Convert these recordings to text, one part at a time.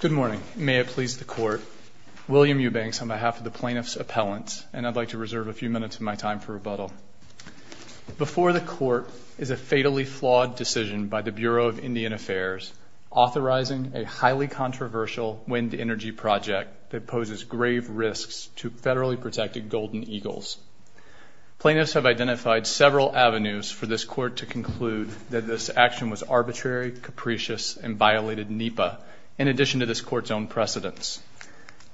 Good morning. May it please the Court, William Eubanks on behalf of the Plaintiffs' Appellants, and I'd like to reserve a few minutes of my time for rebuttal. Before the Court is a fatally flawed decision by the Bureau of Indian Affairs authorizing a highly controversial wind energy project that poses grave risks to federally protected Golden Eagles. Plaintiffs have identified several avenues for this Court to conclude that this action was arbitrary, capricious, and violated NEPA, in addition to this Court's own precedence.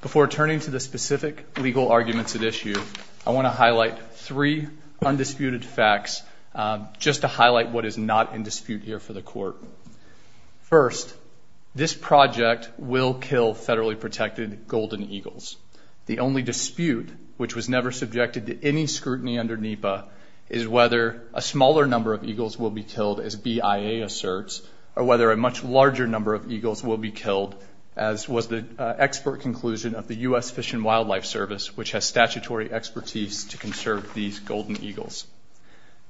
Before turning to the specific legal arguments at issue, I want to highlight three undisputed facts, just to highlight what is not in dispute here for the Court. First, this project will kill federally protected Golden Eagles. The only dispute, which was never subjected to any scrutiny under NEPA, is whether a smaller number of Eagles will be killed, as BIA asserts, or whether a much larger number of Eagles will be killed, as was the expert conclusion of the U.S. Fish and Wildlife Service, which has statutory expertise to conserve these Golden Eagles.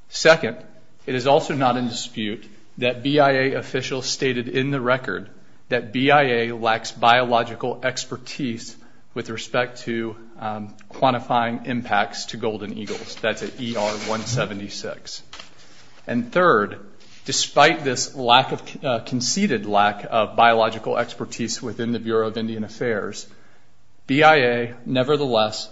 Second, it is also not in dispute that BIA officials stated in the record that BIA lacks biological expertise with respect to quantifying impacts to Golden Eagles. That's at ER 176. And third, despite this conceded lack of biological expertise within the Bureau of Indian Affairs, BIA nevertheless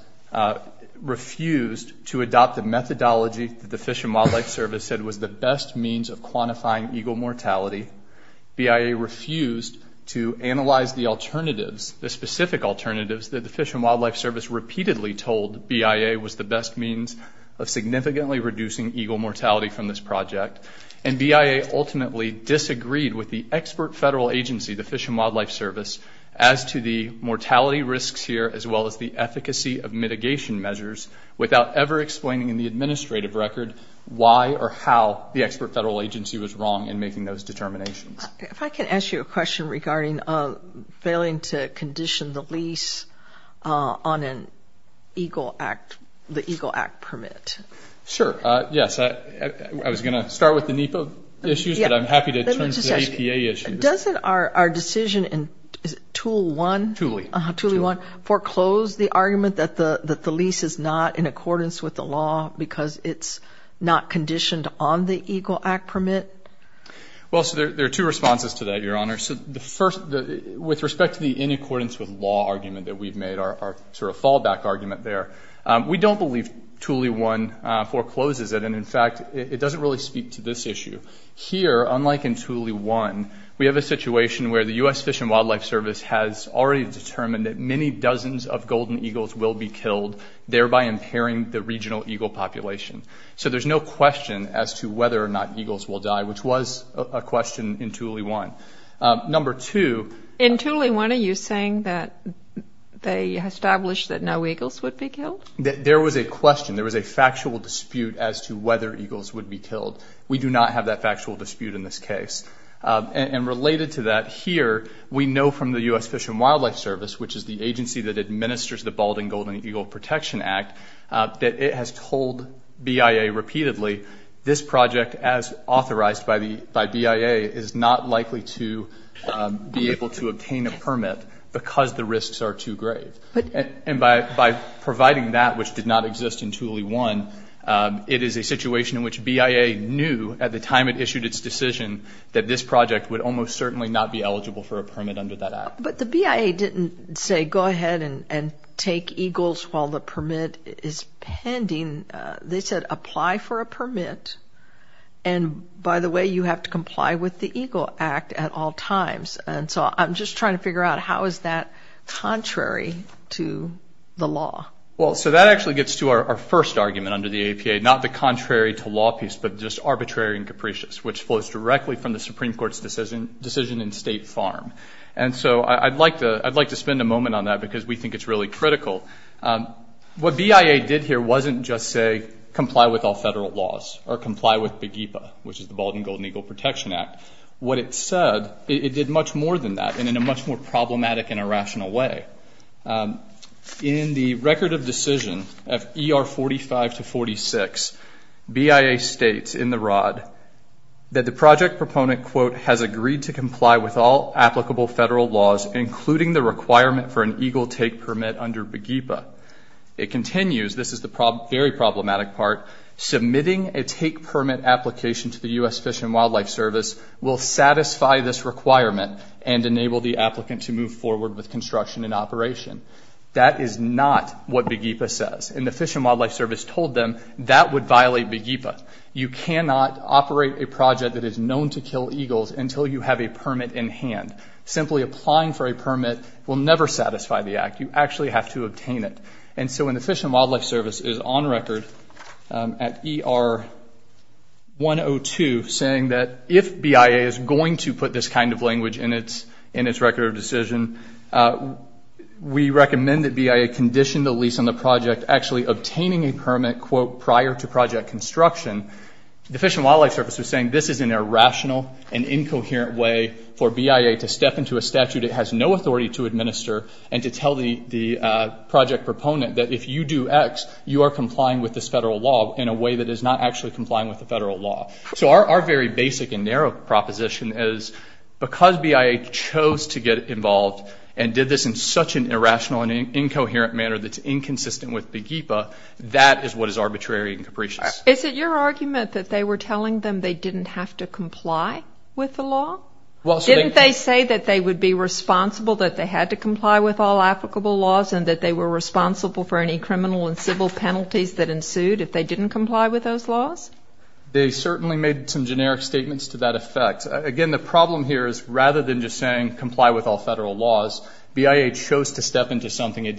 refused to adopt the methodology that the Fish and Wildlife Service said was the best means of quantifying Eagle mortality. BIA refused to analyze the alternatives, the specific alternatives, that the Fish and Wildlife Service repeatedly told BIA was the best means of significantly reducing Eagle mortality from this project. And BIA ultimately disagreed with the expert federal agency, the Fish and Wildlife Service, as to the mortality risks here, as well as the efficacy of mitigation measures, without ever explaining in the administrative record why or how the expert federal agency was wrong in making those determinations. If I can ask you a question regarding failing to condition the lease on an Eagle Act, the Eagle Act permit. Sure. Yes. I was going to start with the NEPA issues, but I'm happy to turn to the APA issues. Doesn't our decision in Tool 1 foreclose the argument that the lease is not in accordance with the law because it's not conditioned on the Eagle Act permit? Well, so there are two responses to that, Your Honor. So the first, with respect to the in accordance with law argument that we've made, our sort of fallback argument there, we don't believe Tool 1 forecloses it. And in fact, it doesn't really speak to this issue. Here, unlike in Tool 1, we have a situation where the U.S. Fish and Wildlife Service has already determined that many dozens of golden eagles will be killed, thereby impairing the BIA, which was a question in Tool 1. Number two... In Tool 1, are you saying that they established that no eagles would be killed? There was a question. There was a factual dispute as to whether eagles would be killed. We do not have that factual dispute in this case. And related to that, here, we know from the U.S. Fish and Wildlife Service, which is the agency that administers the Bald and by BIA, is not likely to be able to obtain a permit because the risks are too great. And by providing that, which did not exist in Tool 1, it is a situation in which BIA knew at the time it issued its decision that this project would almost certainly not be eligible for a permit under that Act. But the BIA didn't say go ahead and take eagles while the permit is pending. They said apply for a permit. And by the way, you have to comply with the Eagle Act at all times. And so I'm just trying to figure out how is that contrary to the law? Well, so that actually gets to our first argument under the APA, not the contrary to law piece, but just arbitrary and capricious, which flows directly from the Supreme Court's decision in State Farm. And so I'd like to spend a moment on that because we think it's really critical. What BIA did here wasn't just say comply with all federal laws or comply with BEGEPA, which is the Bald and Golden Eagle Protection Act. What it said, it did much more than that and in a much more problematic and irrational way. In the record of decision of ER 45 to 46, BIA states in the ROD that the project proponent quote has agreed to comply with all applicable federal laws, including the requirement for an eagle take permit under BEGEPA. It continues, this is the very problematic part, submitting a take permit application to the U.S. Fish and Wildlife Service will satisfy this requirement and enable the applicant to move forward with construction and operation. That is not what BEGEPA says. And the Fish and Wildlife Service told them that would violate BEGEPA. You cannot operate a project that is known to kill eagles until you have a permit in hand. Simply applying for a permit will never satisfy the act. You actually have to obtain it. And so when the Fish and Wildlife Service is on record at ER 102 saying that if BIA is going to put this kind of language in its record of decision, we recommend that BIA condition the lease on the project actually obtaining a permit quote prior to project construction, the Fish and Wildlife Service is saying this is an irrational and incoherent way for BIA to step into a statute it has no authority to administer and to tell the project proponent that if you do X, you are complying with this federal law in a way that is not actually complying with the federal law. So our very basic and narrow proposition is because BIA chose to get involved and did this in such an irrational and incoherent manner that's inconsistent with BEGEPA, that is what is arbitrary and capricious. Is it your argument that they were telling them they didn't have to comply with the law? Didn't they say that they would be responsible that they had to comply with all applicable laws and that they were responsible for any criminal and civil penalties that ensued if they didn't comply with those laws? They certainly made some generic statements to that effect. Again, the problem here is rather than just saying comply with all federal laws, BIA chose to step into something it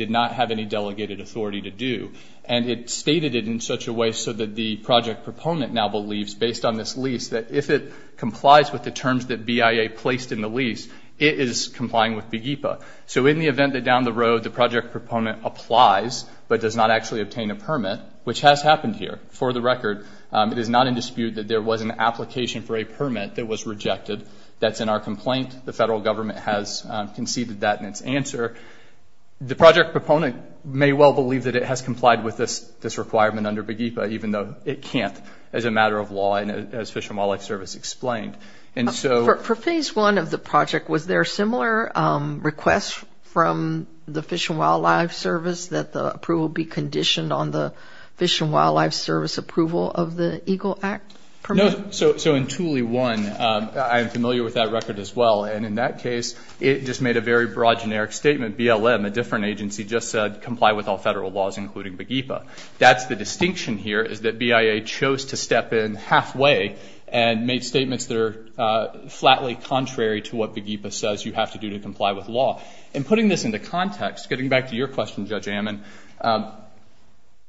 stated it in such a way so that the project proponent now believes based on this lease that if it complies with the terms that BIA placed in the lease, it is complying with BEGEPA. So in the event that down the road the project proponent applies but does not actually obtain a permit, which has happened here, for the record, it is not in dispute that there was an application for a permit that was rejected. That's in our complaint. The federal government has conceded that in its answer. The project proponent may well believe that it has complied with this requirement under BEGEPA even though it can't as a matter of law and as Fish and Wildlife Service explained. For phase one of the project, was there a similar request from the Fish and Wildlife Service that the approval be conditioned on the Fish and Wildlife Service approval of the EGLE Act permit? So in Thule 1, I am familiar with that record as well, and in that case it just made a very broad, generic statement. BLM, a different agency, just said comply with all federal laws including BEGEPA. That's the distinction here is that BIA chose to step in halfway and made statements that are flatly contrary to what BEGEPA says you have to do to comply with law. And putting this into context, getting back to your question, Judge Ammon,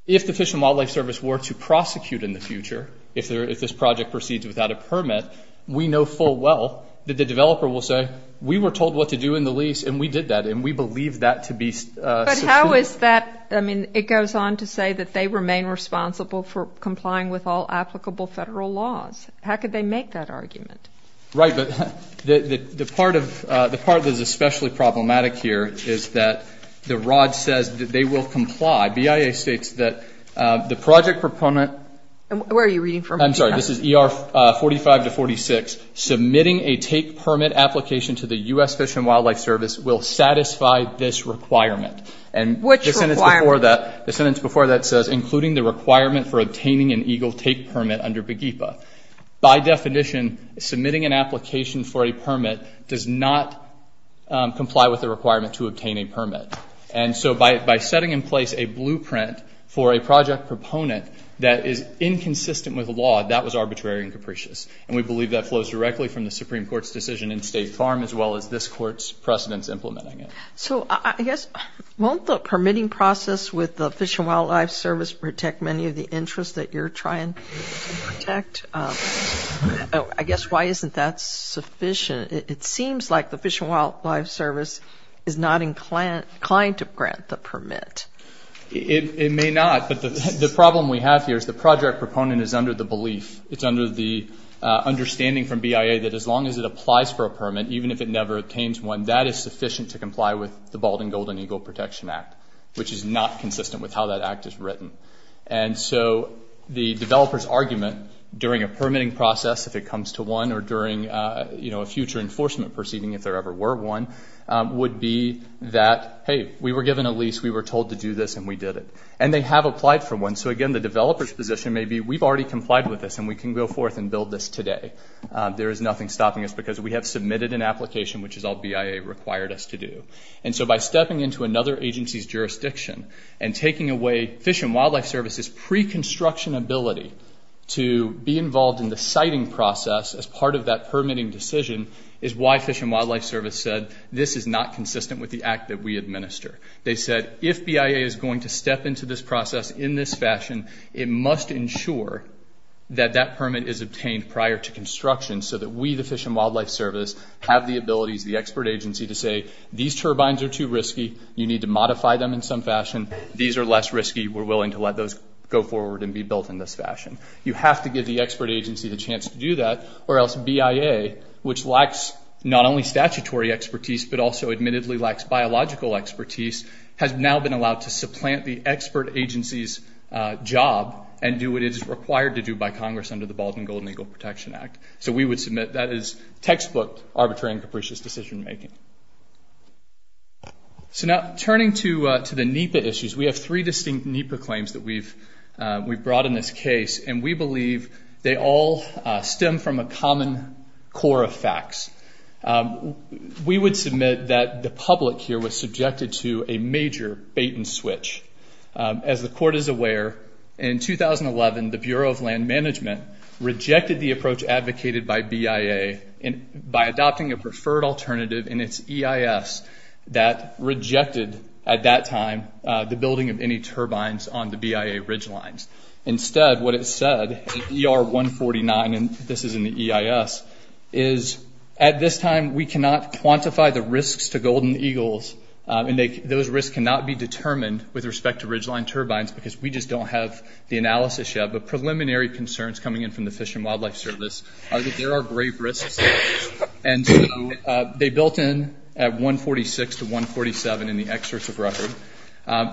if the Fish and Wildlife Service were to prosecute in the future, if this project proceeds without a permit, we know full well that the developer will say, we were told what to do in the lease and we did that and we believe that to be sufficient. But how is that, I mean, it goes on to say that they remain responsible for complying with all applicable federal laws. How could they make that argument? Right, but the part that is especially problematic here is that the ROD says that they will comply. BIA states that the project proponent... Where are you reading from? I'm sorry, this is ER 45 to 46. Submitting a take permit application to the U.S. Fish and Wildlife Service will satisfy this requirement. Which requirement? The sentence before that says, including the requirement for obtaining an EGLE take permit under BEGEPA. By definition, submitting an application for a permit does not comply with the requirement to obtain a permit. And so by setting in place a blueprint for a project proponent that is inconsistent with law, that was arbitrary and capricious. And we believe that flows directly from the Supreme Court's decision in State Farm as well as this Court's precedents implementing it. So I guess, won't the permitting process with the Fish and Wildlife Service protect many of the interests that you're trying to protect? I guess, why isn't that sufficient? It seems like the Fish and Wildlife Service is not inclined to grant the permit. It may not, but the problem we have here is the project proponent is under the belief, it's under the understanding from BIA that as long as it applies for a permit, even if it never obtains one, that is sufficient to comply with the Bald and Golden EGLE Protection Act, which is not consistent with how that act is written. And so the developer's argument during a permitting process, if it comes to one, or during a future enforcement proceeding, if there ever were one, would be that, hey, we were given a lease, we were told to do this, and we did it. And they have applied for one. So again, the developer's complied with this, and we can go forth and build this today. There is nothing stopping us because we have submitted an application, which is all BIA required us to do. And so by stepping into another agency's jurisdiction and taking away Fish and Wildlife Service's pre-construction ability to be involved in the siting process as part of that permitting decision is why Fish and Wildlife Service said, this is not consistent with the act that we administer. They said, if BIA is going to step into this process in this fashion, it must ensure that that permit is obtained prior to construction so that we, the Fish and Wildlife Service, have the abilities, the expert agency, to say, these turbines are too risky. You need to modify them in some fashion. These are less risky. We're willing to let those go forward and be built in this fashion. You have to give the expert agency the chance to do that, or else BIA, which lacks not only statutory expertise, but also admittedly lacks biological expertise, has now been allowed to supplant the expert agency's job and do what it is required to do by Congress under the Bald and Golden Eagle Protection Act. So we would submit that is textbook arbitrary and capricious decision making. So now turning to the NEPA issues, we have three distinct NEPA claims that we've brought in this case, and we believe they all stem from a common core of facts. We would submit that the public here was subjected to a major bait and switch. As the Court is aware, in 2011, the Bureau of Land Management rejected the approach advocated by BIA by adopting a preferred alternative in its EIS that rejected, at that time, the building of any turbines on the BIA ridgelines. Instead, what it said in ER 149, and this is in the EIS, is at this time, we cannot quantify the risks to golden eagles, and those risks cannot be determined with respect to ridgeline turbines because we just don't have the analysis yet, but preliminary concerns coming in from the Fish and Wildlife Service are that there are grave risks. And so they built in at 146 to 147 in the excerpts of record,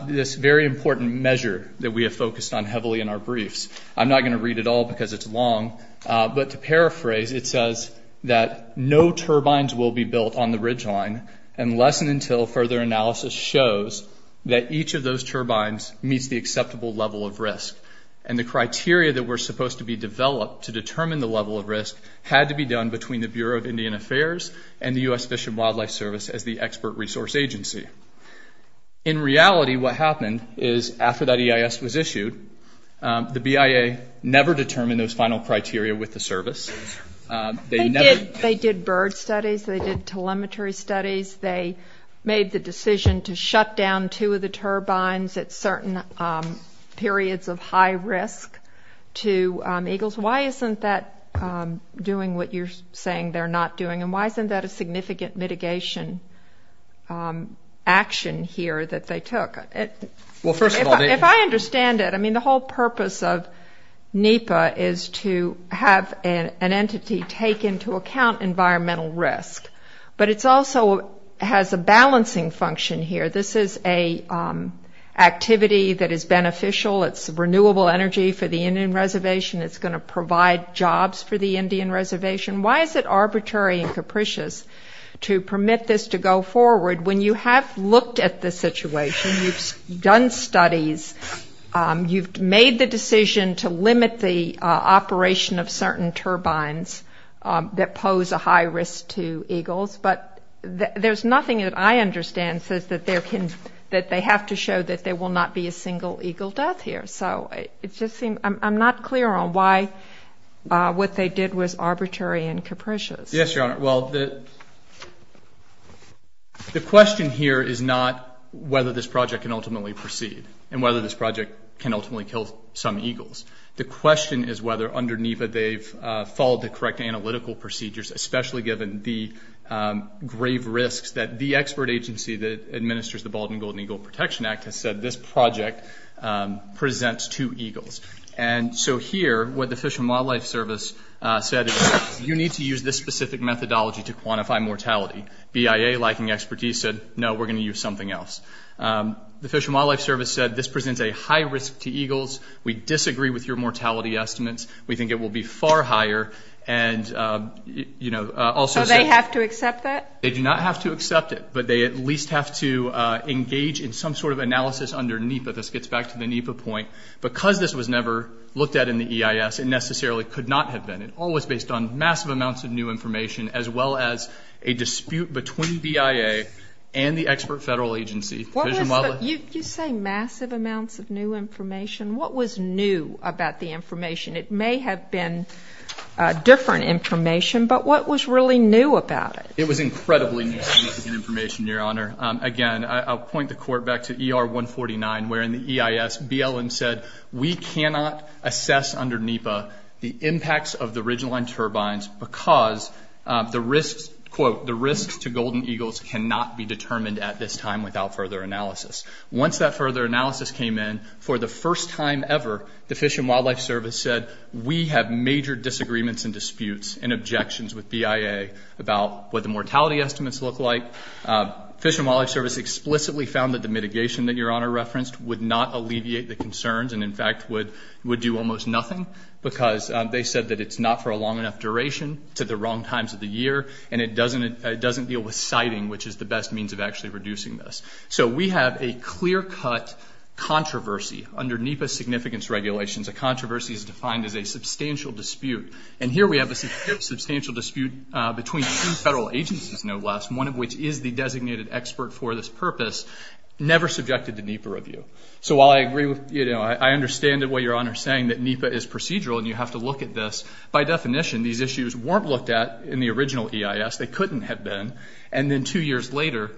this very important measure that we have focused on heavily in our briefs. I'm not going to read it all because it's long, but to paraphrase, it says that no turbines will be built on the ridgeline unless and until further analysis shows that each of those turbines meets the acceptable level of risk. And the criteria that were supposed to be developed to determine the level of risk had to be done between the Bureau of Indian Affairs and the U.S. Fish and Wildlife Service as the expert resource agency. In reality, what happened is, after that EIS was issued, the BIA never determined those final criteria with the service. They did bird studies, they did telemetry studies, they made the decision to shut down two of the turbines at certain periods of high risk to eagles. Why isn't that doing what you're saying they're not doing, and why isn't that a significant mitigation action here that they took? If I understand it, the whole purpose of NEPA is to have an entity take into account environmental risk, but it also has a balancing function here. This is an activity that is beneficial. It's renewable energy for the Indian Reservation. It's going to provide jobs for the Indian Reservation. Why is it arbitrary and capricious to permit this to go forward when you have looked at the situation, you've done studies, you've made the decision to limit the operation of certain turbines that pose a high risk to eagles, but there's nothing that I understand says that they have to show that there will not be a single eagle death here. So it just seems I'm not clear on why what they did was arbitrary. The question here is not whether this project can ultimately proceed and whether this project can ultimately kill some eagles. The question is whether under NEPA they've followed the correct analytical procedures, especially given the grave risks that the expert agency that administers the Bald and Golden Eagle Protection Act has said this project presents to eagles. And so here, what the Fish and Wildlife Service said is you need to use this specific methodology to quantify mortality. BIA, lacking expertise, said, no, we're going to use something else. The Fish and Wildlife Service said this presents a high risk to eagles. We disagree with your mortality estimates. We think it will be far higher and, you know, also... So they have to accept that? They do not have to accept it, but they at least have to engage in some sort of analysis under NEPA. This gets back to the NEPA point. Because this was never looked at in the EIS, it necessarily could not have been. It all was based on massive amounts of new information, as well as a dispute between BIA and the expert federal agency. You say massive amounts of new information. What was new about the information? It may have been different information, but what was really new about it? It was incredibly new information, Your Honor. Again, I'll point the court back to ER 149, where in the EIS, BLM said, we cannot assess under NEPA the impacts of the ridgeline turbines because the risks, quote, the risks to golden eagles cannot be determined at this time without further analysis. Once that further analysis came in, for the first time ever, the Fish and Wildlife Service said, we have major disagreements and disputes and objections with BIA about what the mortality estimates look like. Fish and Wildlife Service explicitly found that the mitigation that Your Honor referenced would not alleviate the concerns and, in fact, would do almost nothing because they said that it's not for a long enough duration to the wrong times of the year, and it doesn't deal with siting, which is the best means of actually reducing this. So we have a clear-cut controversy under NEPA significance regulations. A controversy is defined as a substantial dispute. And here we have a substantial dispute between two designated experts for this purpose, never subjected to NEPA review. So while I agree with, you know, I understand what Your Honor is saying, that NEPA is procedural and you have to look at this, by definition, these issues weren't looked at in the original EIS. They couldn't have been. And then two years later,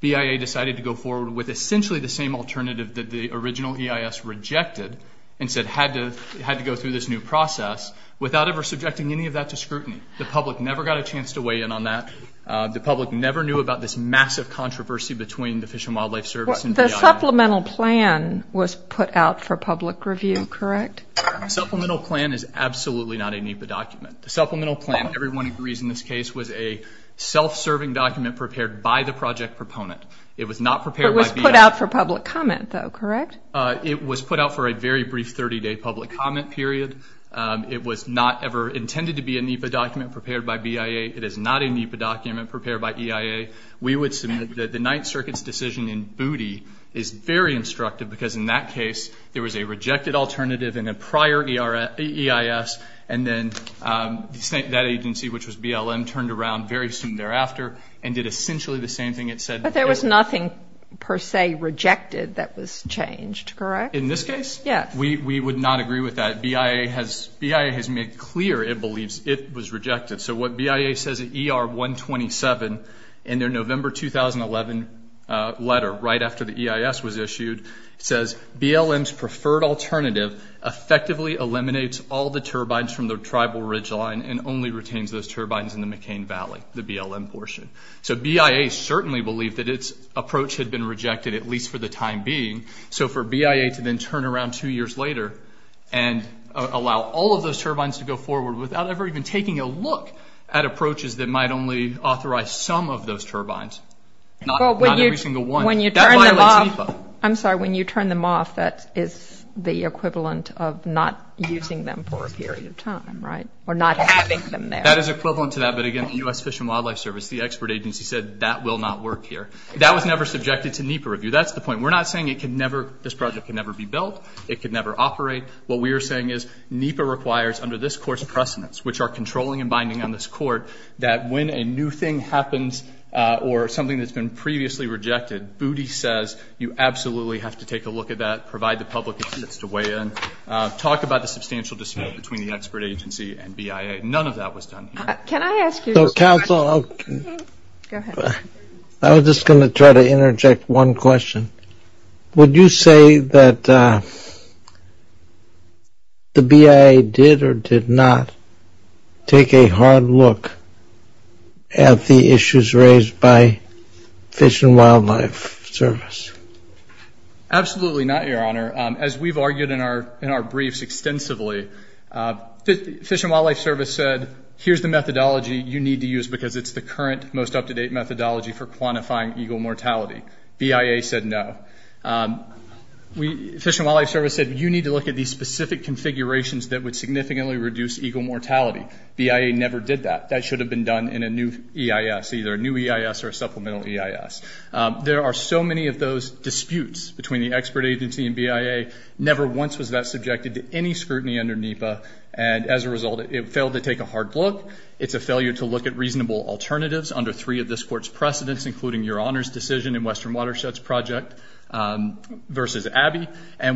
BIA decided to go forward with essentially the same alternative that the original EIS rejected and said had to go through this new process without ever subjecting any of that to scrutiny. The public never got a chance to weigh in on that. The public never knew about this massive controversy between the Fish and Wildlife Service and BIA. The supplemental plan was put out for public review, correct? Supplemental plan is absolutely not a NEPA document. The supplemental plan, everyone agrees in this case, was a self-serving document prepared by the project proponent. It was not prepared by BIA. It was put out for public comment, though, correct? It was put out for a very brief 30-day public comment period. It was not ever intended to be a NEPA document prepared by EIA. We would submit that the Ninth Circuit's decision in Booty is very instructive because in that case, there was a rejected alternative in a prior EIS, and then that agency, which was BLM, turned around very soon thereafter and did essentially the same thing it said. But there was nothing, per se, rejected that was changed, correct? In this case, we would not agree with that. BIA has made clear it believes it was rejected. So what BIA says at ER 127 in their November 2011 letter, right after the EIS was issued, says BLM's preferred alternative effectively eliminates all the turbines from the tribal ridgeline and only retains those turbines in the McCain Valley, the BLM portion. So BIA certainly believed that its approach had been rejected, at least for the time being. So for BIA to then turn around two years later and allow all of those turbines to go forward without ever even taking a look at approaches that might only authorize some of those turbines, not every single one, that violates NEPA. I'm sorry, when you turn them off, that is the equivalent of not using them for a period of time, right? Or not having them there. That is equivalent to that, but again, the U.S. Fish and Wildlife Service, the expert agency said that will not work here. That was never subjected to NEPA review. That's the point. We're not saying this project can never be built, it can never operate. What we are saying is NEPA requires, under this court's precedence, which are controlling and binding on this court, that when a new thing happens or something that's been previously rejected, Booty says, you absolutely have to take a look at that, provide the public assistance to weigh in. Talk about the substantial dispute between the expert agency and BIA. None of that was done here. Can I ask you a question? I was just going to try to interject one question. Would you say that the BIA did or did not take a hard look at the issues raised by Fish and Wildlife Service? Absolutely not, Your Honor. As we've argued in our briefs extensively, Fish and Wildlife Service said, here's the methodology you need to use because it's the current most up-to-date methodology for quantifying eagle mortality. BIA said no. Fish and Wildlife Service said, you need to look at these specific configurations that would significantly reduce eagle mortality. BIA never did that. That should have been done in a new EIS, either a new EIS or a supplemental EIS. There are so many of those disputes between the expert agency and BIA. Never once was that subjected to any scrutiny under NEPA, and as a result, it failed to take a hard look. It's a failure to look at reasonable alternatives under three of this Court's precedents, including your Honor's decision in Western Watershed's project versus Abbey.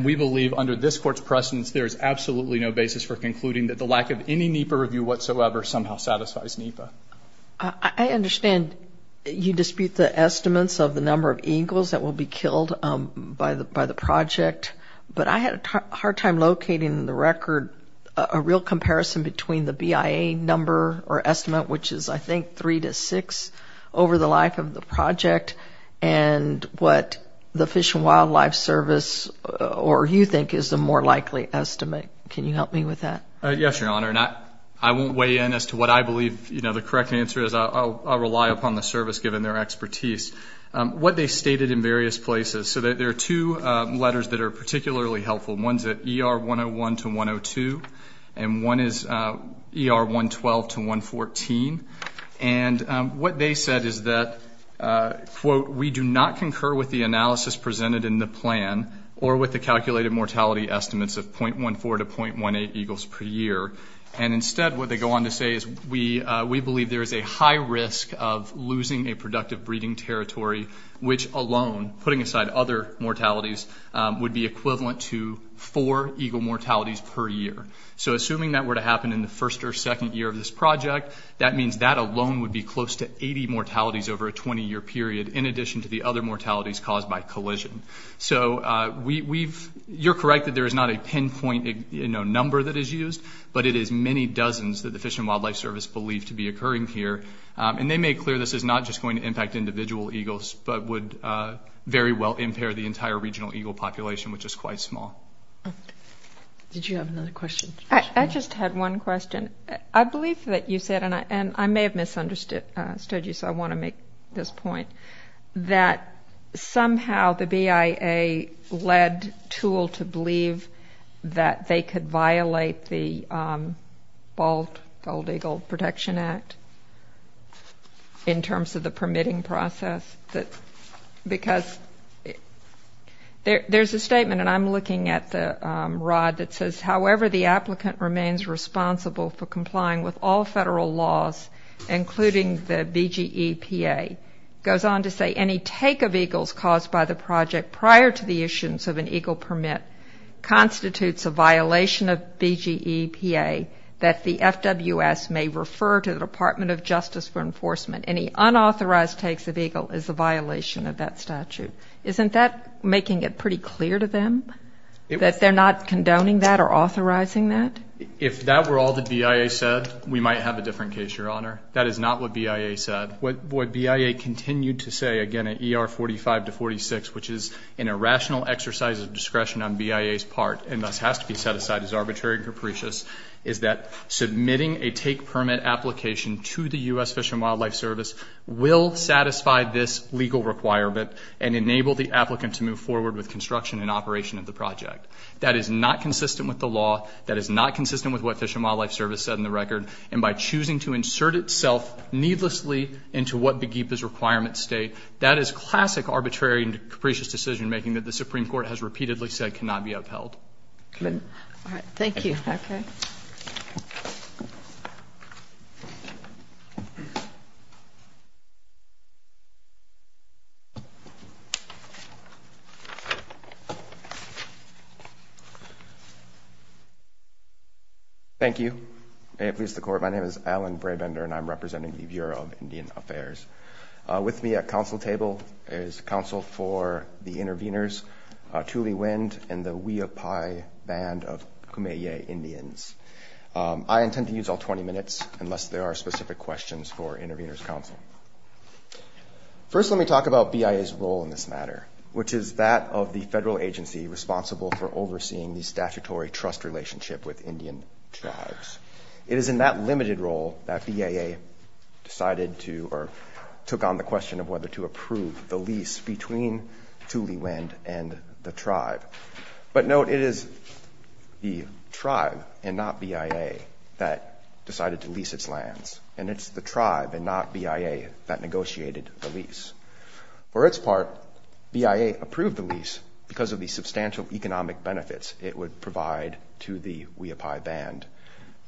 We believe under this Court's precedents, there is absolutely no basis for concluding that the lack of any NEPA review whatsoever somehow satisfies NEPA. I understand you dispute the estimates of the number of eagles that will be killed by the project, but I had a hard time locating the record, a real comparison between the BIA number or estimate, which is I think three to six over the life of the project, and what the Fish and Wildlife Service or you think is the more likely estimate. Can you help me with that? Yes, Your Honor. I won't weigh in as to what I believe the correct answer is. I'll rely upon the service, given their expertise. What they stated in various places, so there are two letters that are particularly helpful. One's at ER 101 to 102, and one is ER 112 to 114, and what they said is that, quote, we do not concur with the analysis presented in the plan or with the calculated mortality estimates of 0.14 to 0.18 eagles per year, and instead what they go on to say is we believe there is a high risk of losing a productive pair of eagles per year. So assuming that were to happen in the first or second year of this project, that means that alone would be close to 80 mortalities over a 20-year period in addition to the other mortalities caused by collision. So you're correct that there is not a pinpoint number that is used, but it is many dozens that the Fish and Wildlife Service believe to be occurring here, and they made clear this is not just going to the entire regional eagle population, which is quite small. Did you have another question? I just had one question. I believe that you said, and I may have misunderstood you, so I want to make this point, that somehow the BIA led TOOL to believe that they could violate the Bald Eagle Protection Act in terms of the permitting process, because it's not There's a statement, and I'm looking at the rod that says, however the applicant remains responsible for complying with all federal laws, including the BGEPA, goes on to say any take of eagles caused by the project prior to the issuance of an eagle permit constitutes a violation of BGEPA that the FWS may refer to the Department of Justice for enforcement. Any unauthorized takes of eagle is a violation of that statute. Isn't that making it pretty clear to them that they're not condoning that or authorizing that? If that were all that BIA said, we might have a different case, Your Honor. That is not what BIA said. What BIA continued to say, again, at ER 45 to 46, which is an irrational exercise of discretion on BIA's part, and thus has to be set aside as arbitrary and will satisfy this legal requirement and enable the applicant to move forward with construction and operation of the project. That is not consistent with the law. That is not consistent with what Fish and Wildlife Service said in the record. And by choosing to insert itself needlessly into what BGEPA's requirements state, that is classic arbitrary and capricious decision making that the Supreme Court has repeatedly said cannot be upheld. Thank you. May it please the Court, my name is Alan Brabender, and I'm representing the Bureau of Indian Affairs. With me at council table is counsel for the interveners, Tuli Wind and the Wiyopi Band of Kumeyaay Indians. I intend to use all 20 minutes unless there are specific questions for intervener's counsel. First, let me talk about BIA's role in this matter, which is that of the federal agency responsible for overseeing the statutory trust relationship with Indian tribes. It is in that limited role that BIA decided to, or took on the question of whether to approve the lease between Tuli Wind and the tribe. But note, it is the tribe and not BIA that decided to lease its lands. And it's the tribe and not BIA that negotiated the lease. For its part, BIA approved the lease because of the substantial economic benefits it would provide to the Wiyopi Band.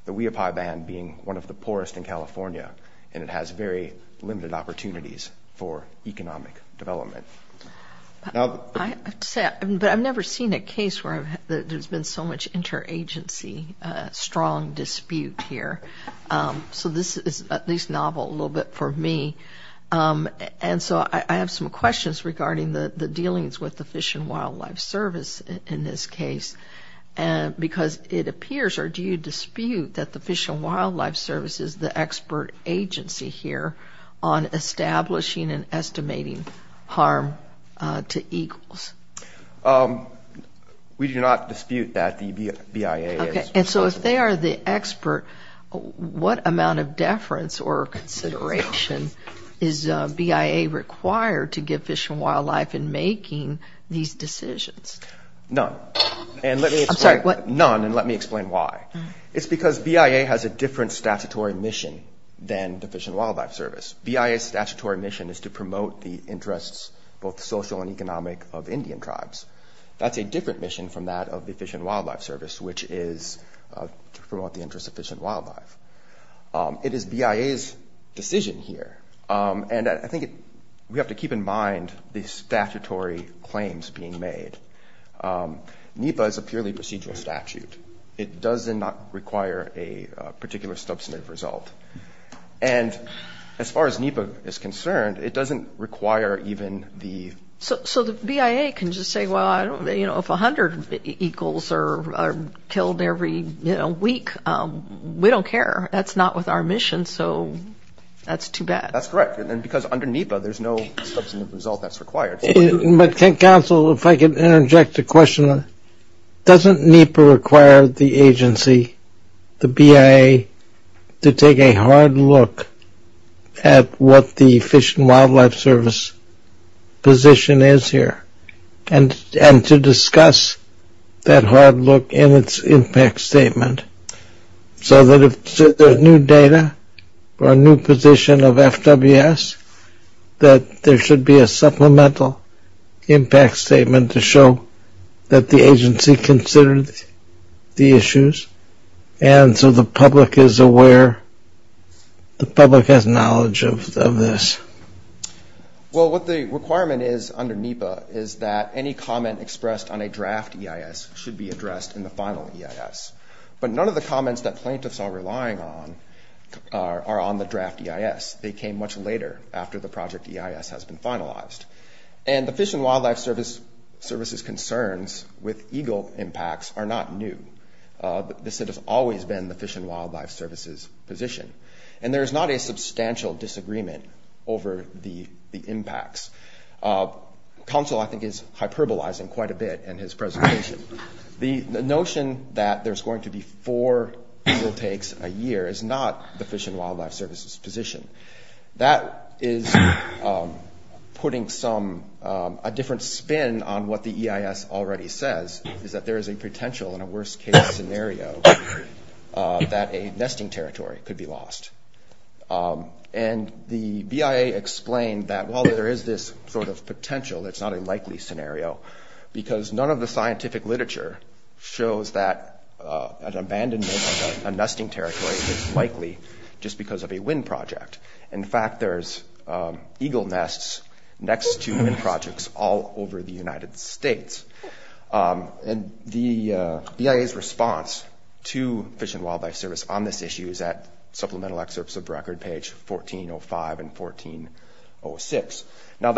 The Wiyopi Band being one of the poorest in California, and it has very limited opportunities for economic development. I have to say, but I've never seen a case where there's been so much interagency, strong dispute here. So this is at least novel a little bit for me. And so I have some questions regarding the dealings with the Fish and Wildlife Service in this case, because it appears, or do you dispute, that the Fish and Wildlife Service is the expert agency here on establishing and estimating harm to eagles? We do not dispute that the BIA is. And so if they are the expert, what amount of deference or consideration is BIA required to give Fish and Wildlife in making these decisions? None. I'm sorry, what? None, and let me explain why. It's because BIA has a different statutory mission than the Fish and Wildlife Service. BIA's statutory mission is to promote the interests, both social and economic, of Indian tribes. That's a different mission from that of the Fish and Wildlife Service, which is to promote the interests of fish and wildlife. It is BIA's decision here, and I think we have to keep in mind the statutory claims being made. NEPA is a purely procedural statute. It does not require a particular substantive result. And as far as NEPA is concerned, it doesn't require even the... So the BIA can just say, well, you know, if 100 eagles are killed every, you know, week, we don't care. That's not with our mission, so that's too bad. That's correct, because under NEPA, there's no substantive result that's required. Counsel, if I could interject a question. Doesn't NEPA require the agency, the BIA, to take a hard look at what the Fish and Wildlife Service position is here, and to discuss that hard look in its impact statement, so that if there's new data or a new position of FWS, that there should be a supplemental impact statement to show that the agency considered the issues, and so the public is aware, the public has knowledge of this? Well, what the requirement is under NEPA is that any comment expressed on a draft EIS should be addressed in the final EIS. But none of the comments that plaintiffs are relying on are on the draft EIS. They came much later, after the project EIS has been finalized. And the Fish and Wildlife Service's concerns with eagle impacts are not new. This has always been the Fish and Wildlife Service's position. And there's not a substantial disagreement over the impacts. Counsel, I think, is hyperbolizing quite a bit in his presentation. The notion that there's going to be four eagle takes a year is not the Fish and Wildlife Service's position. That is putting a different spin on what the EIS already says, is that there is a potential in a worst-case scenario that a nesting territory could be lost. And the BIA explained that while there is this sort of potential, it's not a likely scenario, because none of the scientific literature shows that an abandonment of a nesting territory is likely just because of a wind project. In fact, there's eagle nests next to wind projects all over the United States. And the BIA's response to Fish and Wildlife Service on this issue is at Supplemental Excerpts of Record, page 1405 and 1406. Now,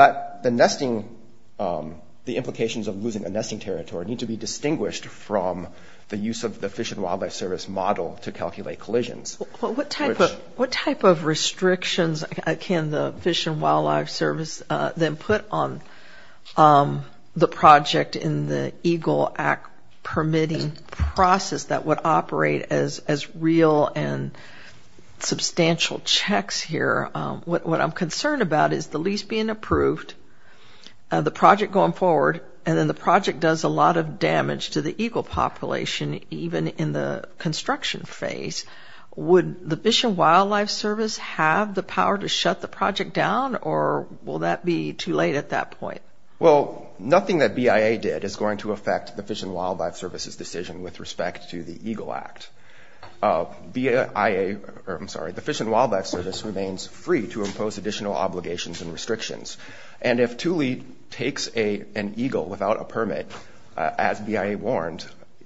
the implications of losing a nesting territory need to be distinguished from the use of the Fish and Wildlife Service model to calculate collisions. What type of restrictions can the Fish and Wildlife Service then put on the project in the Eagle Act permitting process that would operate as real and substantial checks here? What I'm concerned about is the lease being approved, the project going forward, and then the project does a lot of damage to the eagle population even in the construction phase. Would the Fish and Wildlife Service have the power to shut the project down, or will that be too late at that point? Well, nothing that BIA did is going to affect the Fish and Wildlife Service's decision with respect to the Eagle Act. The Fish and Wildlife Service remains free to impose additional obligations and restrictions. And if Thule takes an eagle without a permit, as BIA warned,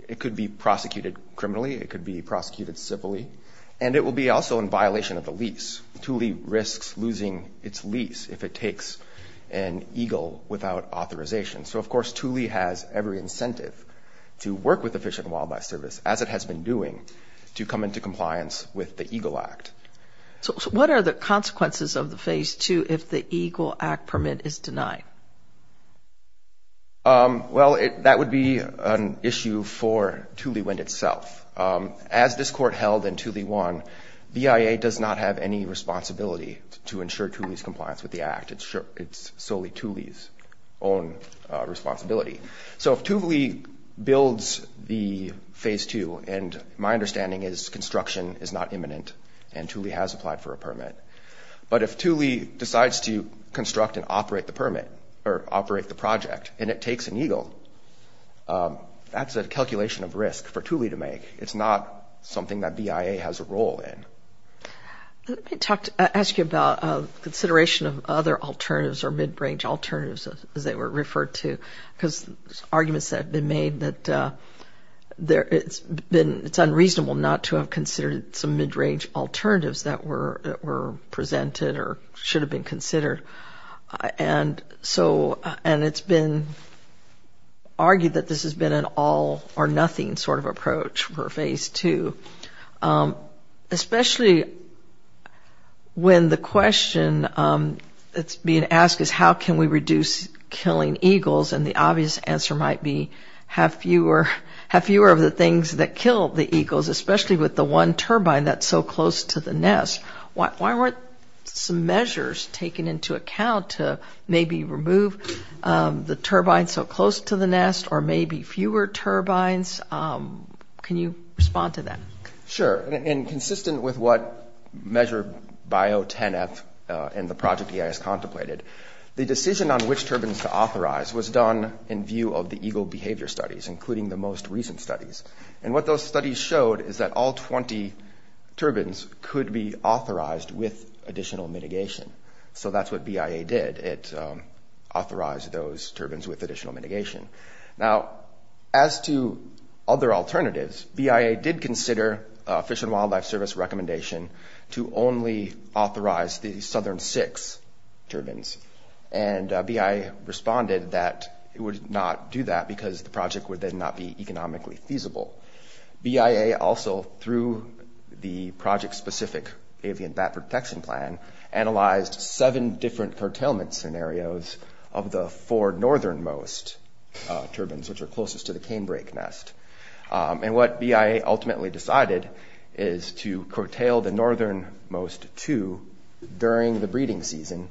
it could be prosecuted criminally, it could be prosecuted civilly, and it will be also in violation of the lease. Thule risks losing its lease if it takes an eagle without authorization. So, of course, Thule has every incentive to work with the Fish and Wildlife Service, as it has been doing, to come into compliance with the Eagle Act. So what are the consequences of the Phase 2 if the Eagle Act permit is denied? Well, that would be an issue for Thule Wind itself. As this court held in Thule 1, BIA does not have any responsibility to ensure Thule's compliance with the Act. It's solely Thule's own responsibility. So if Thule builds the Phase 2, and my understanding is construction is not imminent, and Thule has applied for a permit, but if Thule decides to construct and operate the permit, or operate the project, and it takes an eagle, that's a calculation of risk for Thule to make. It's not something that BIA has a role in. Let me ask you about consideration of other alternatives or mid-range alternatives, as they were referred to, because there's arguments that have been made that it's unreasonable not to have considered some mid-range alternatives that were presented or should have been considered. And it's been argued that this has been an all-or-nothing sort of approach for Phase 2, especially when the question that's being asked is, how can we reduce killing eagles? And the obvious answer might be, have fewer of the things that kill the eagles, especially with the one turbine that's so close to the nest. Why weren't some measures taken into account to maybe remove the turbine so close to the nest, or maybe fewer turbines? Can you respond to that? Sure. And consistent with what Measure Bio 10-F and the project EIS contemplated, the decision on which turbines to authorize was done in view of the eagle behavior studies, including the most recent studies. And what those studies showed is that all 20 turbines could be authorized with additional mitigation. So that's what BIA did. It authorized those turbines with additional mitigation. Now, as to other alternatives, BIA did consider Fish and Wildlife Service recommendation to only authorize the southern six turbines. And BIA responded that it would not do that because the project would then not be economically feasible. BIA also, through the project-specific avian bat protection plan, analyzed seven different curtailment scenarios of the four northernmost turbines, which are closest to the canebrake nest. And what BIA ultimately decided is to curtail the northernmost two during the breeding season,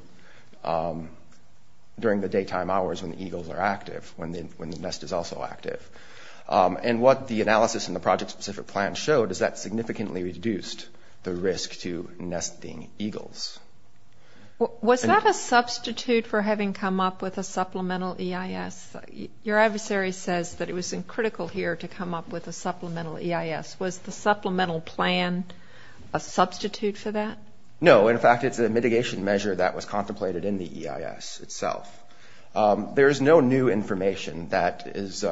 during the daytime hours when the eagles are active, when the nest is also active. And what the analysis in the project-specific plan showed is that significantly reduced the risk to nesting eagles. Was that a substitute for having come up with a supplemental EIS? Your adversary says that it was critical here to come up with a supplemental EIS. Was the supplemental plan a substitute for that? No. In fact, it's a mitigation measure that was contemplated in the EIS itself. There is no new information that is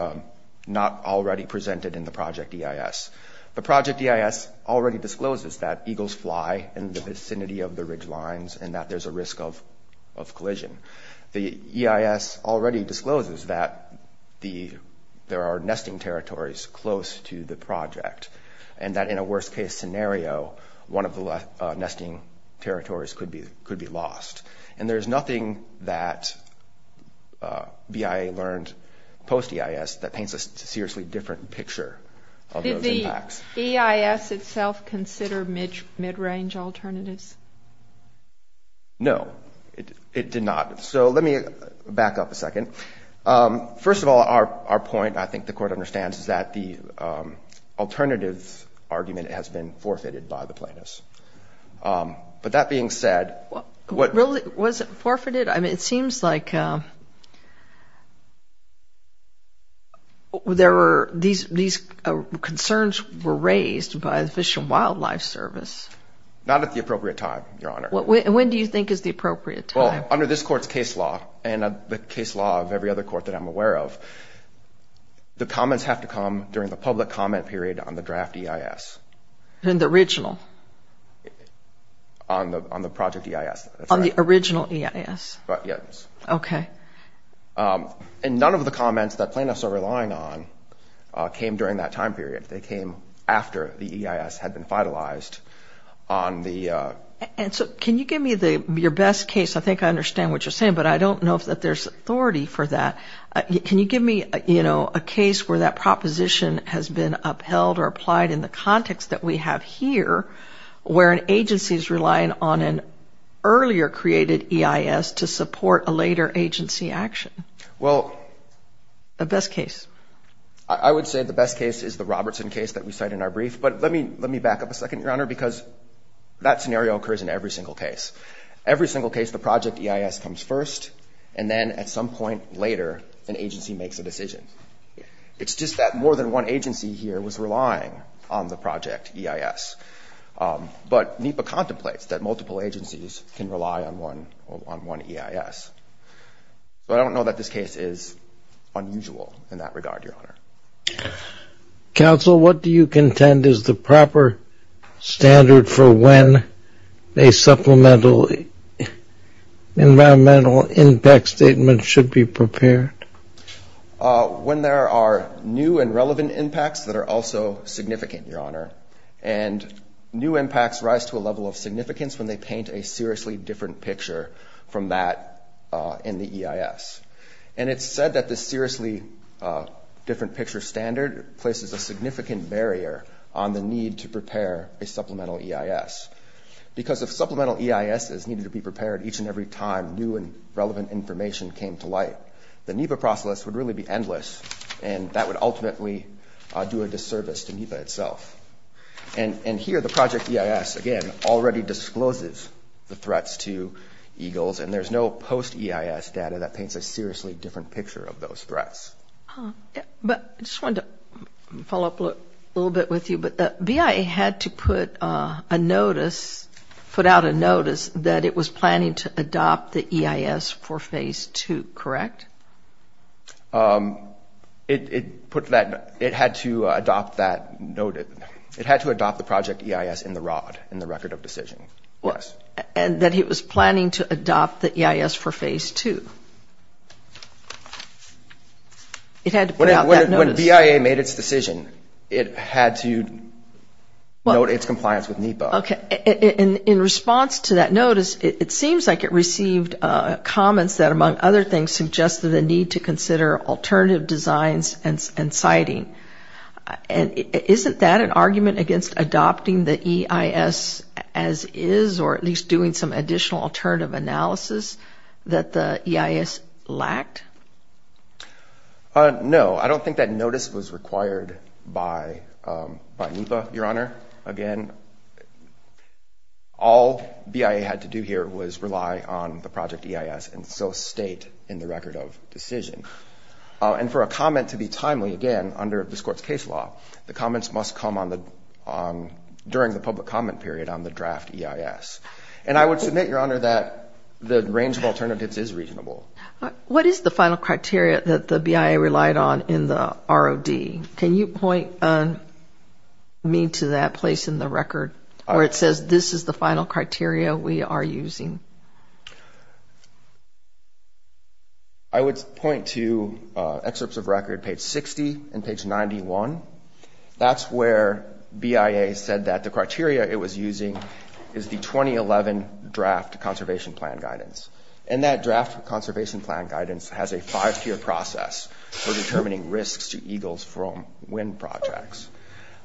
not already presented in the project EIS. The project EIS already discloses that eagles fly in the vicinity of the ridge lines and that there's a risk of collision. The EIS already discloses that there are nesting territories close to the project and that in a worst-case scenario, one of the nesting territories could be lost. And there's nothing that BIA learned post-EIS that paints a seriously different picture. Did the EIS itself consider mid-range alternatives? No, it did not. So let me back up a second. First of all, our point, I think the Court understands, is that the alternative argument has been forfeited by the plaintiffs. But that being said— Was it forfeited? It seems like these concerns were raised by the Fish and Wildlife Service. Not at the appropriate time, Your Honor. When do you think is the appropriate time? Under this Court's case law and the case law of every other court that I'm aware of, the comments have to come during the public comment period on the draft EIS. In the original? On the project EIS, that's right. On the original EIS? Yes. Okay. And none of the comments that plaintiffs are relying on came during that time period. They came after the EIS had been finalized on the— And so can you give me your best case? I think I understand what you're saying, but I don't know if there's authority for that. Can you give me, you know, a case where that proposition has been upheld or applied in the context that we have here, where an agency is relying on an earlier created EIS to support a later agency action? Well— The best case. I would say the best case is the Robertson case that we cite in our brief. But let me back up a second, Your Honor, because that scenario occurs in every single case. Every single case, the project EIS comes first, and then at some point later an agency makes a decision. It's just that more than one agency here was relying on the project EIS. But NEPA contemplates that multiple agencies can rely on one EIS. But I don't know that this case is unusual in that regard, Your Honor. Counsel, what do you contend is the proper standard for when a supplemental environmental impact statement should be prepared? When there are new and relevant impacts that are also significant, Your Honor. And new impacts rise to a level of significance when they paint a seriously different picture from that in the EIS. And it's said that the seriously different picture standard places a significant barrier on the need to prepare a supplemental EIS. Because if supplemental EIS is needed to be prepared each and every time new and relevant information came to light, the NEPA process would really be endless, and that would ultimately do a disservice to NEPA itself. And here the project EIS, again, already discloses the threats to eagles, and there's no post-EIS data that paints a seriously different picture of those threats. But I just wanted to follow up a little bit with you. But the BIA had to put a notice, put out a notice that it was planning to adopt the EIS for Phase 2, correct? It had to adopt that notice. It had to adopt the project EIS in the ROD, in the Record of Decision, yes. And that it was planning to adopt the EIS for Phase 2. It had to put out that notice. When BIA made its decision, it had to note its compliance with NEPA. Okay. In response to that notice, it seems like it received comments that, among other things, suggested the need to consider alternative designs and siting. And isn't that an argument against adopting the EIS as is, or at least doing some additional alternative analysis that the EIS lacked? No. I don't think that notice was required by NEPA, Your Honor. Again, all BIA had to do here was rely on the project EIS and so state in the Record of Decision. And for a comment to be timely, again, under this Court's case law, the comments must come during the public comment period on the draft EIS. And I would submit, Your Honor, that the range of alternatives is reasonable. What is the final criteria that the BIA relied on in the ROD? Can you point me to that place in the record where it says, this is the final criteria we are using? I would point to excerpts of record page 60 and page 91. That's where BIA said that the criteria it was using is the 2011 draft conservation plan guidance. And that draft conservation plan guidance has a five-tier process for determining risks to eagles from wind projects.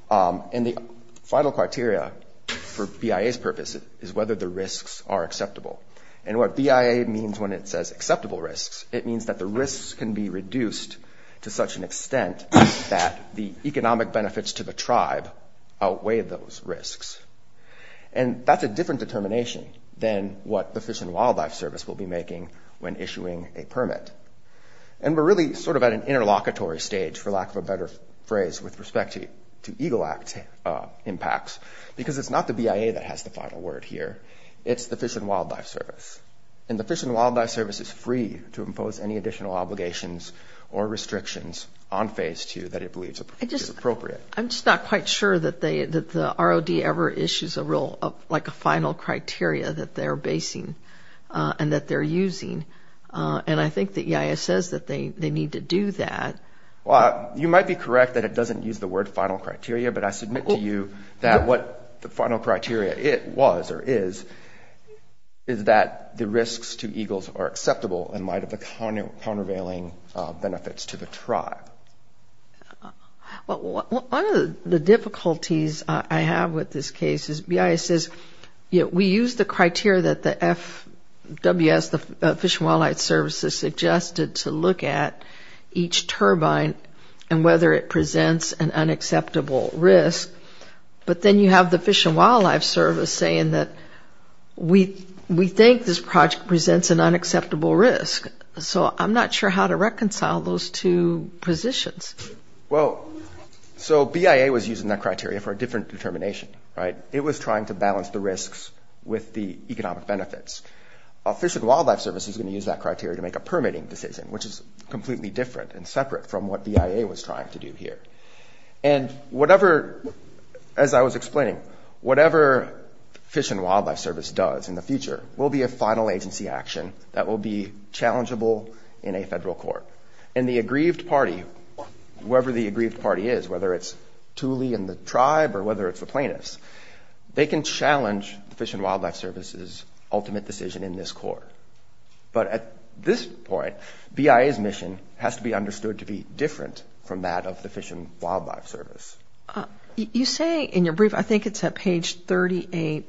And the final criteria for BIA's purpose is whether the risks are acceptable. And what BIA means when it says acceptable risks, it means that the risks can be reduced to such an extent that the economic benefits to the tribe outweigh those risks. And that's a different determination than what the Fish and Wildlife Service will be making when issuing a permit. And we're really sort of at an interlocutory stage, for lack of a better phrase, with respect to Eagle Act impacts, because it's not the BIA that has the final word here. It's the Fish and Wildlife Service. And the Fish and Wildlife Service is free to impose any additional obligations or restrictions on Phase 2 that it believes is appropriate. I'm just not quite sure that the ROD ever issues a final criteria that they're basing and that they're using. And I think that BIA says that they need to do that. Well, you might be correct that it doesn't use the word final criteria, but I submit to you that what the final criteria was or is, is that the risks to eagles are acceptable in light of the countervailing benefits to the tribe. Well, one of the difficulties I have with this case is BIA says, you know, we use the criteria that the FWS, the Fish and Wildlife Service, has suggested to look at each turbine and whether it presents an unacceptable risk. But then you have the Fish and Wildlife Service saying that we think this project presents an unacceptable risk. So I'm not sure how to reconcile those two positions. Well, so BIA was using that criteria for a different determination, right? It was trying to balance the risks with the economic benefits. Fish and Wildlife Service is going to use that criteria to make a permitting decision, which is completely different and separate from what BIA was trying to do here. And whatever, as I was explaining, whatever Fish and Wildlife Service does in the future will be a final agency action that will be challengeable in a federal court. And the aggrieved party, whoever the aggrieved party is, whether it's Thule and the tribe or whether it's the plaintiffs, they can challenge the Fish and Wildlife Service's ultimate decision in this court. But at this point, BIA's mission has to be understood to be different from that of the Fish and Wildlife Service. You say in your brief, I think it's at page 38,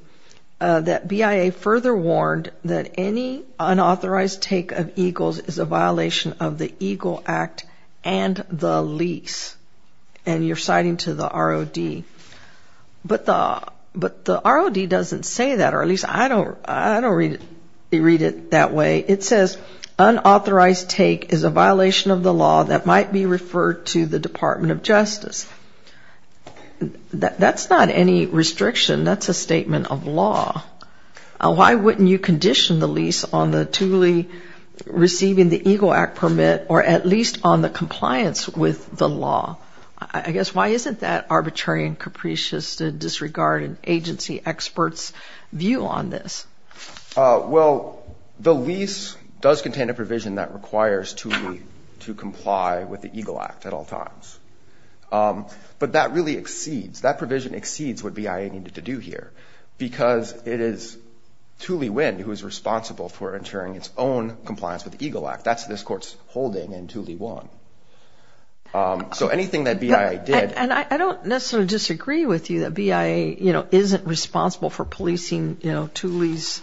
that BIA further warned that any unauthorized take of eagles is a violation of the Eagle Act and the lease. And you're citing to the ROD. But the ROD doesn't say that, or at least I don't read it that way. It says, unauthorized take is a violation of the law that might be referred to the Department of Justice. That's not any restriction. That's a statement of law. Why wouldn't you condition the lease on the Thule receiving the Eagle Act permit, or at least on the compliance with the law? I guess why isn't that arbitrary and capricious to disregard an agency expert's view on this? Well, the lease does contain a provision that requires Thule to comply with the Eagle Act at all times. But that really exceeds, that provision exceeds what BIA needed to do here, because it is Thule Wind who is responsible for ensuring its own compliance with the Eagle Act. That's this court's holding in Thule 1. So anything that BIA did... And I don't necessarily disagree with you that BIA, you know, isn't responsible for policing, you know, Thule's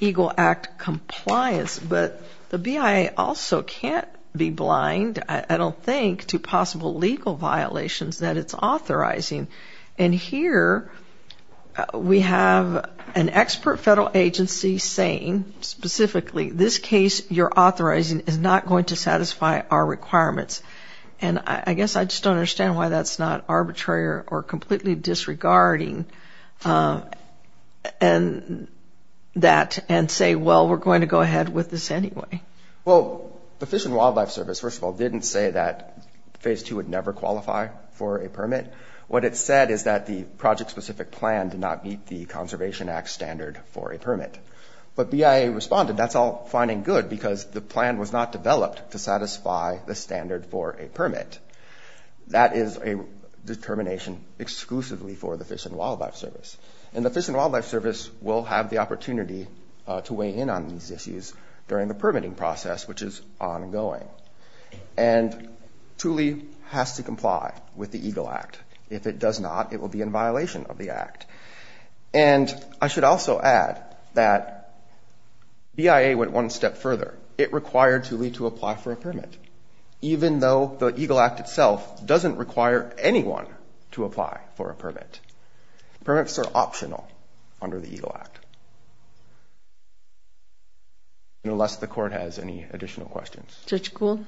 Eagle Act compliance. But the BIA also can't be blind, I don't think, to possible legal violations that it's authorizing. And here we have an expert federal agency saying specifically, this case you're authorizing is not going to satisfy our requirements. And I guess I just don't understand why that's not arbitrary or completely disregarding that and say, well, we're going to go ahead with this anyway. Well, the Fish and Wildlife Service, first of all, didn't say that Phase 2 would never qualify for a permit. What it said is that the project-specific plan did not meet the Conservation Act standard for a permit. But BIA responded, that's all fine and good, because the plan was not developed to satisfy the standard for a permit. That is a determination exclusively for the Fish and Wildlife Service. And the Fish and Wildlife Service will have the opportunity to weigh in on these issues during the permitting process, which is ongoing. And Thule has to comply with the Eagle Act. If it does not, it will be in violation of the Act. And I should also add that BIA went one step further. It required Thule to apply for a permit, even though the Eagle Act itself doesn't require anyone to apply for a permit. Permits are optional under the Eagle Act. Unless the Court has any additional questions. Judge Kuhl?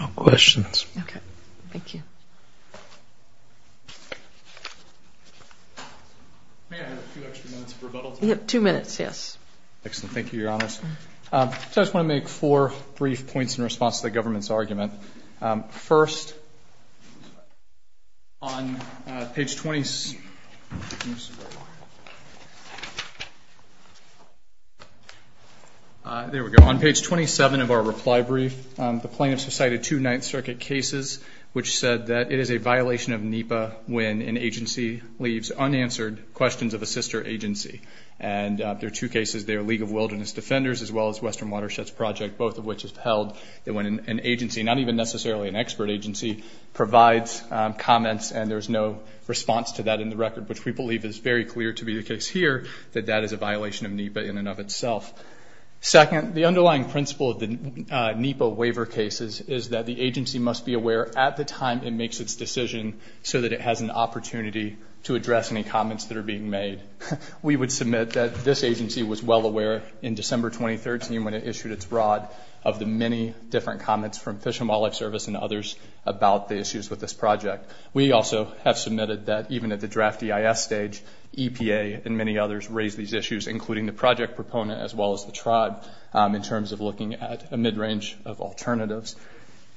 No questions. Okay. Thank you. May I have a few extra minutes of rebuttal time? Two minutes, yes. Excellent. Thank you, Your Honors. I just want to make four brief points in response to the government's argument. First, on page 27 of our reply brief, the plaintiffs recited two Ninth Circuit cases, which said that it is a violation of NEPA when an agency leaves unanswered questions of a sister agency. And there are two cases there, League of Wilderness Defenders as well as Western Watersheds Project, both of which have held that when an agency, not even necessarily an expert agency, provides comments and there's no response to that in the record, which we believe is very clear to be the case here, that that is a violation of NEPA in and of itself. Second, the underlying principle of the NEPA waiver cases is that the agency must be aware at the time it makes its decision so that it has an opportunity to address any comments that are being made. We would submit that this agency was well aware in December 2013 when it issued its broad of the many different comments from Fish and Wildlife Service and others about the issues with this project. We also have submitted that even at the draft EIS stage, EPA and many others raised these issues, including the project proponent as well as the tribe, in terms of looking at a mid-range of alternatives.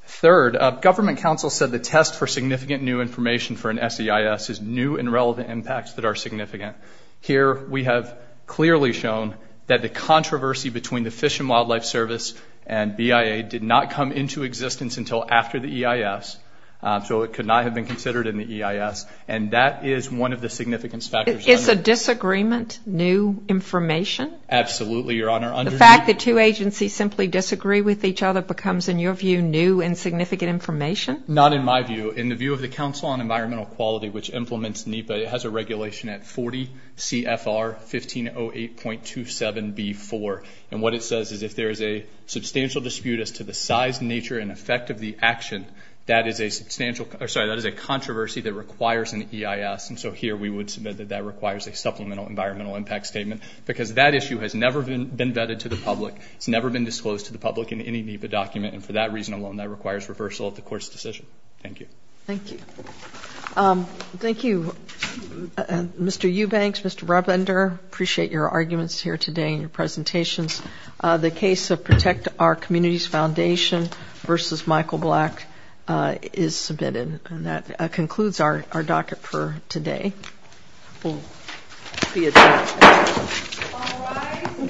Third, government counsel said the test for significant new information for an SEIS is new and relevant impacts that are significant. Here we have clearly shown that the controversy between the Fish and Wildlife Service and BIA did not come into existence until after the EIS, so it could not have been considered in the EIS. And that is one of the significance factors. It's a disagreement, new information? Absolutely, Your Honor. The fact that two agencies simply disagree with each other becomes, in your view, new and significant information? Not in my view. In the view of the Council on Environmental Quality, which implements NEPA, it has a regulation at 40 CFR 1508.27B4. And what it says is if there is a substantial dispute as to the size, nature, and effect of the action, that is a controversy that requires an EIS. And so here we would submit that that requires a supplemental environmental impact statement because that issue has never been vetted to the public. It's never been disclosed to the public in any NEPA document, and for that reason alone that requires reversal of the Court's decision. Thank you. Thank you. Thank you, Mr. Eubanks, Mr. Rubender. I appreciate your arguments here today and your presentations. The case of Protect Our Communities Foundation v. Michael Black is submitted. And that concludes our docket for today. Thank you.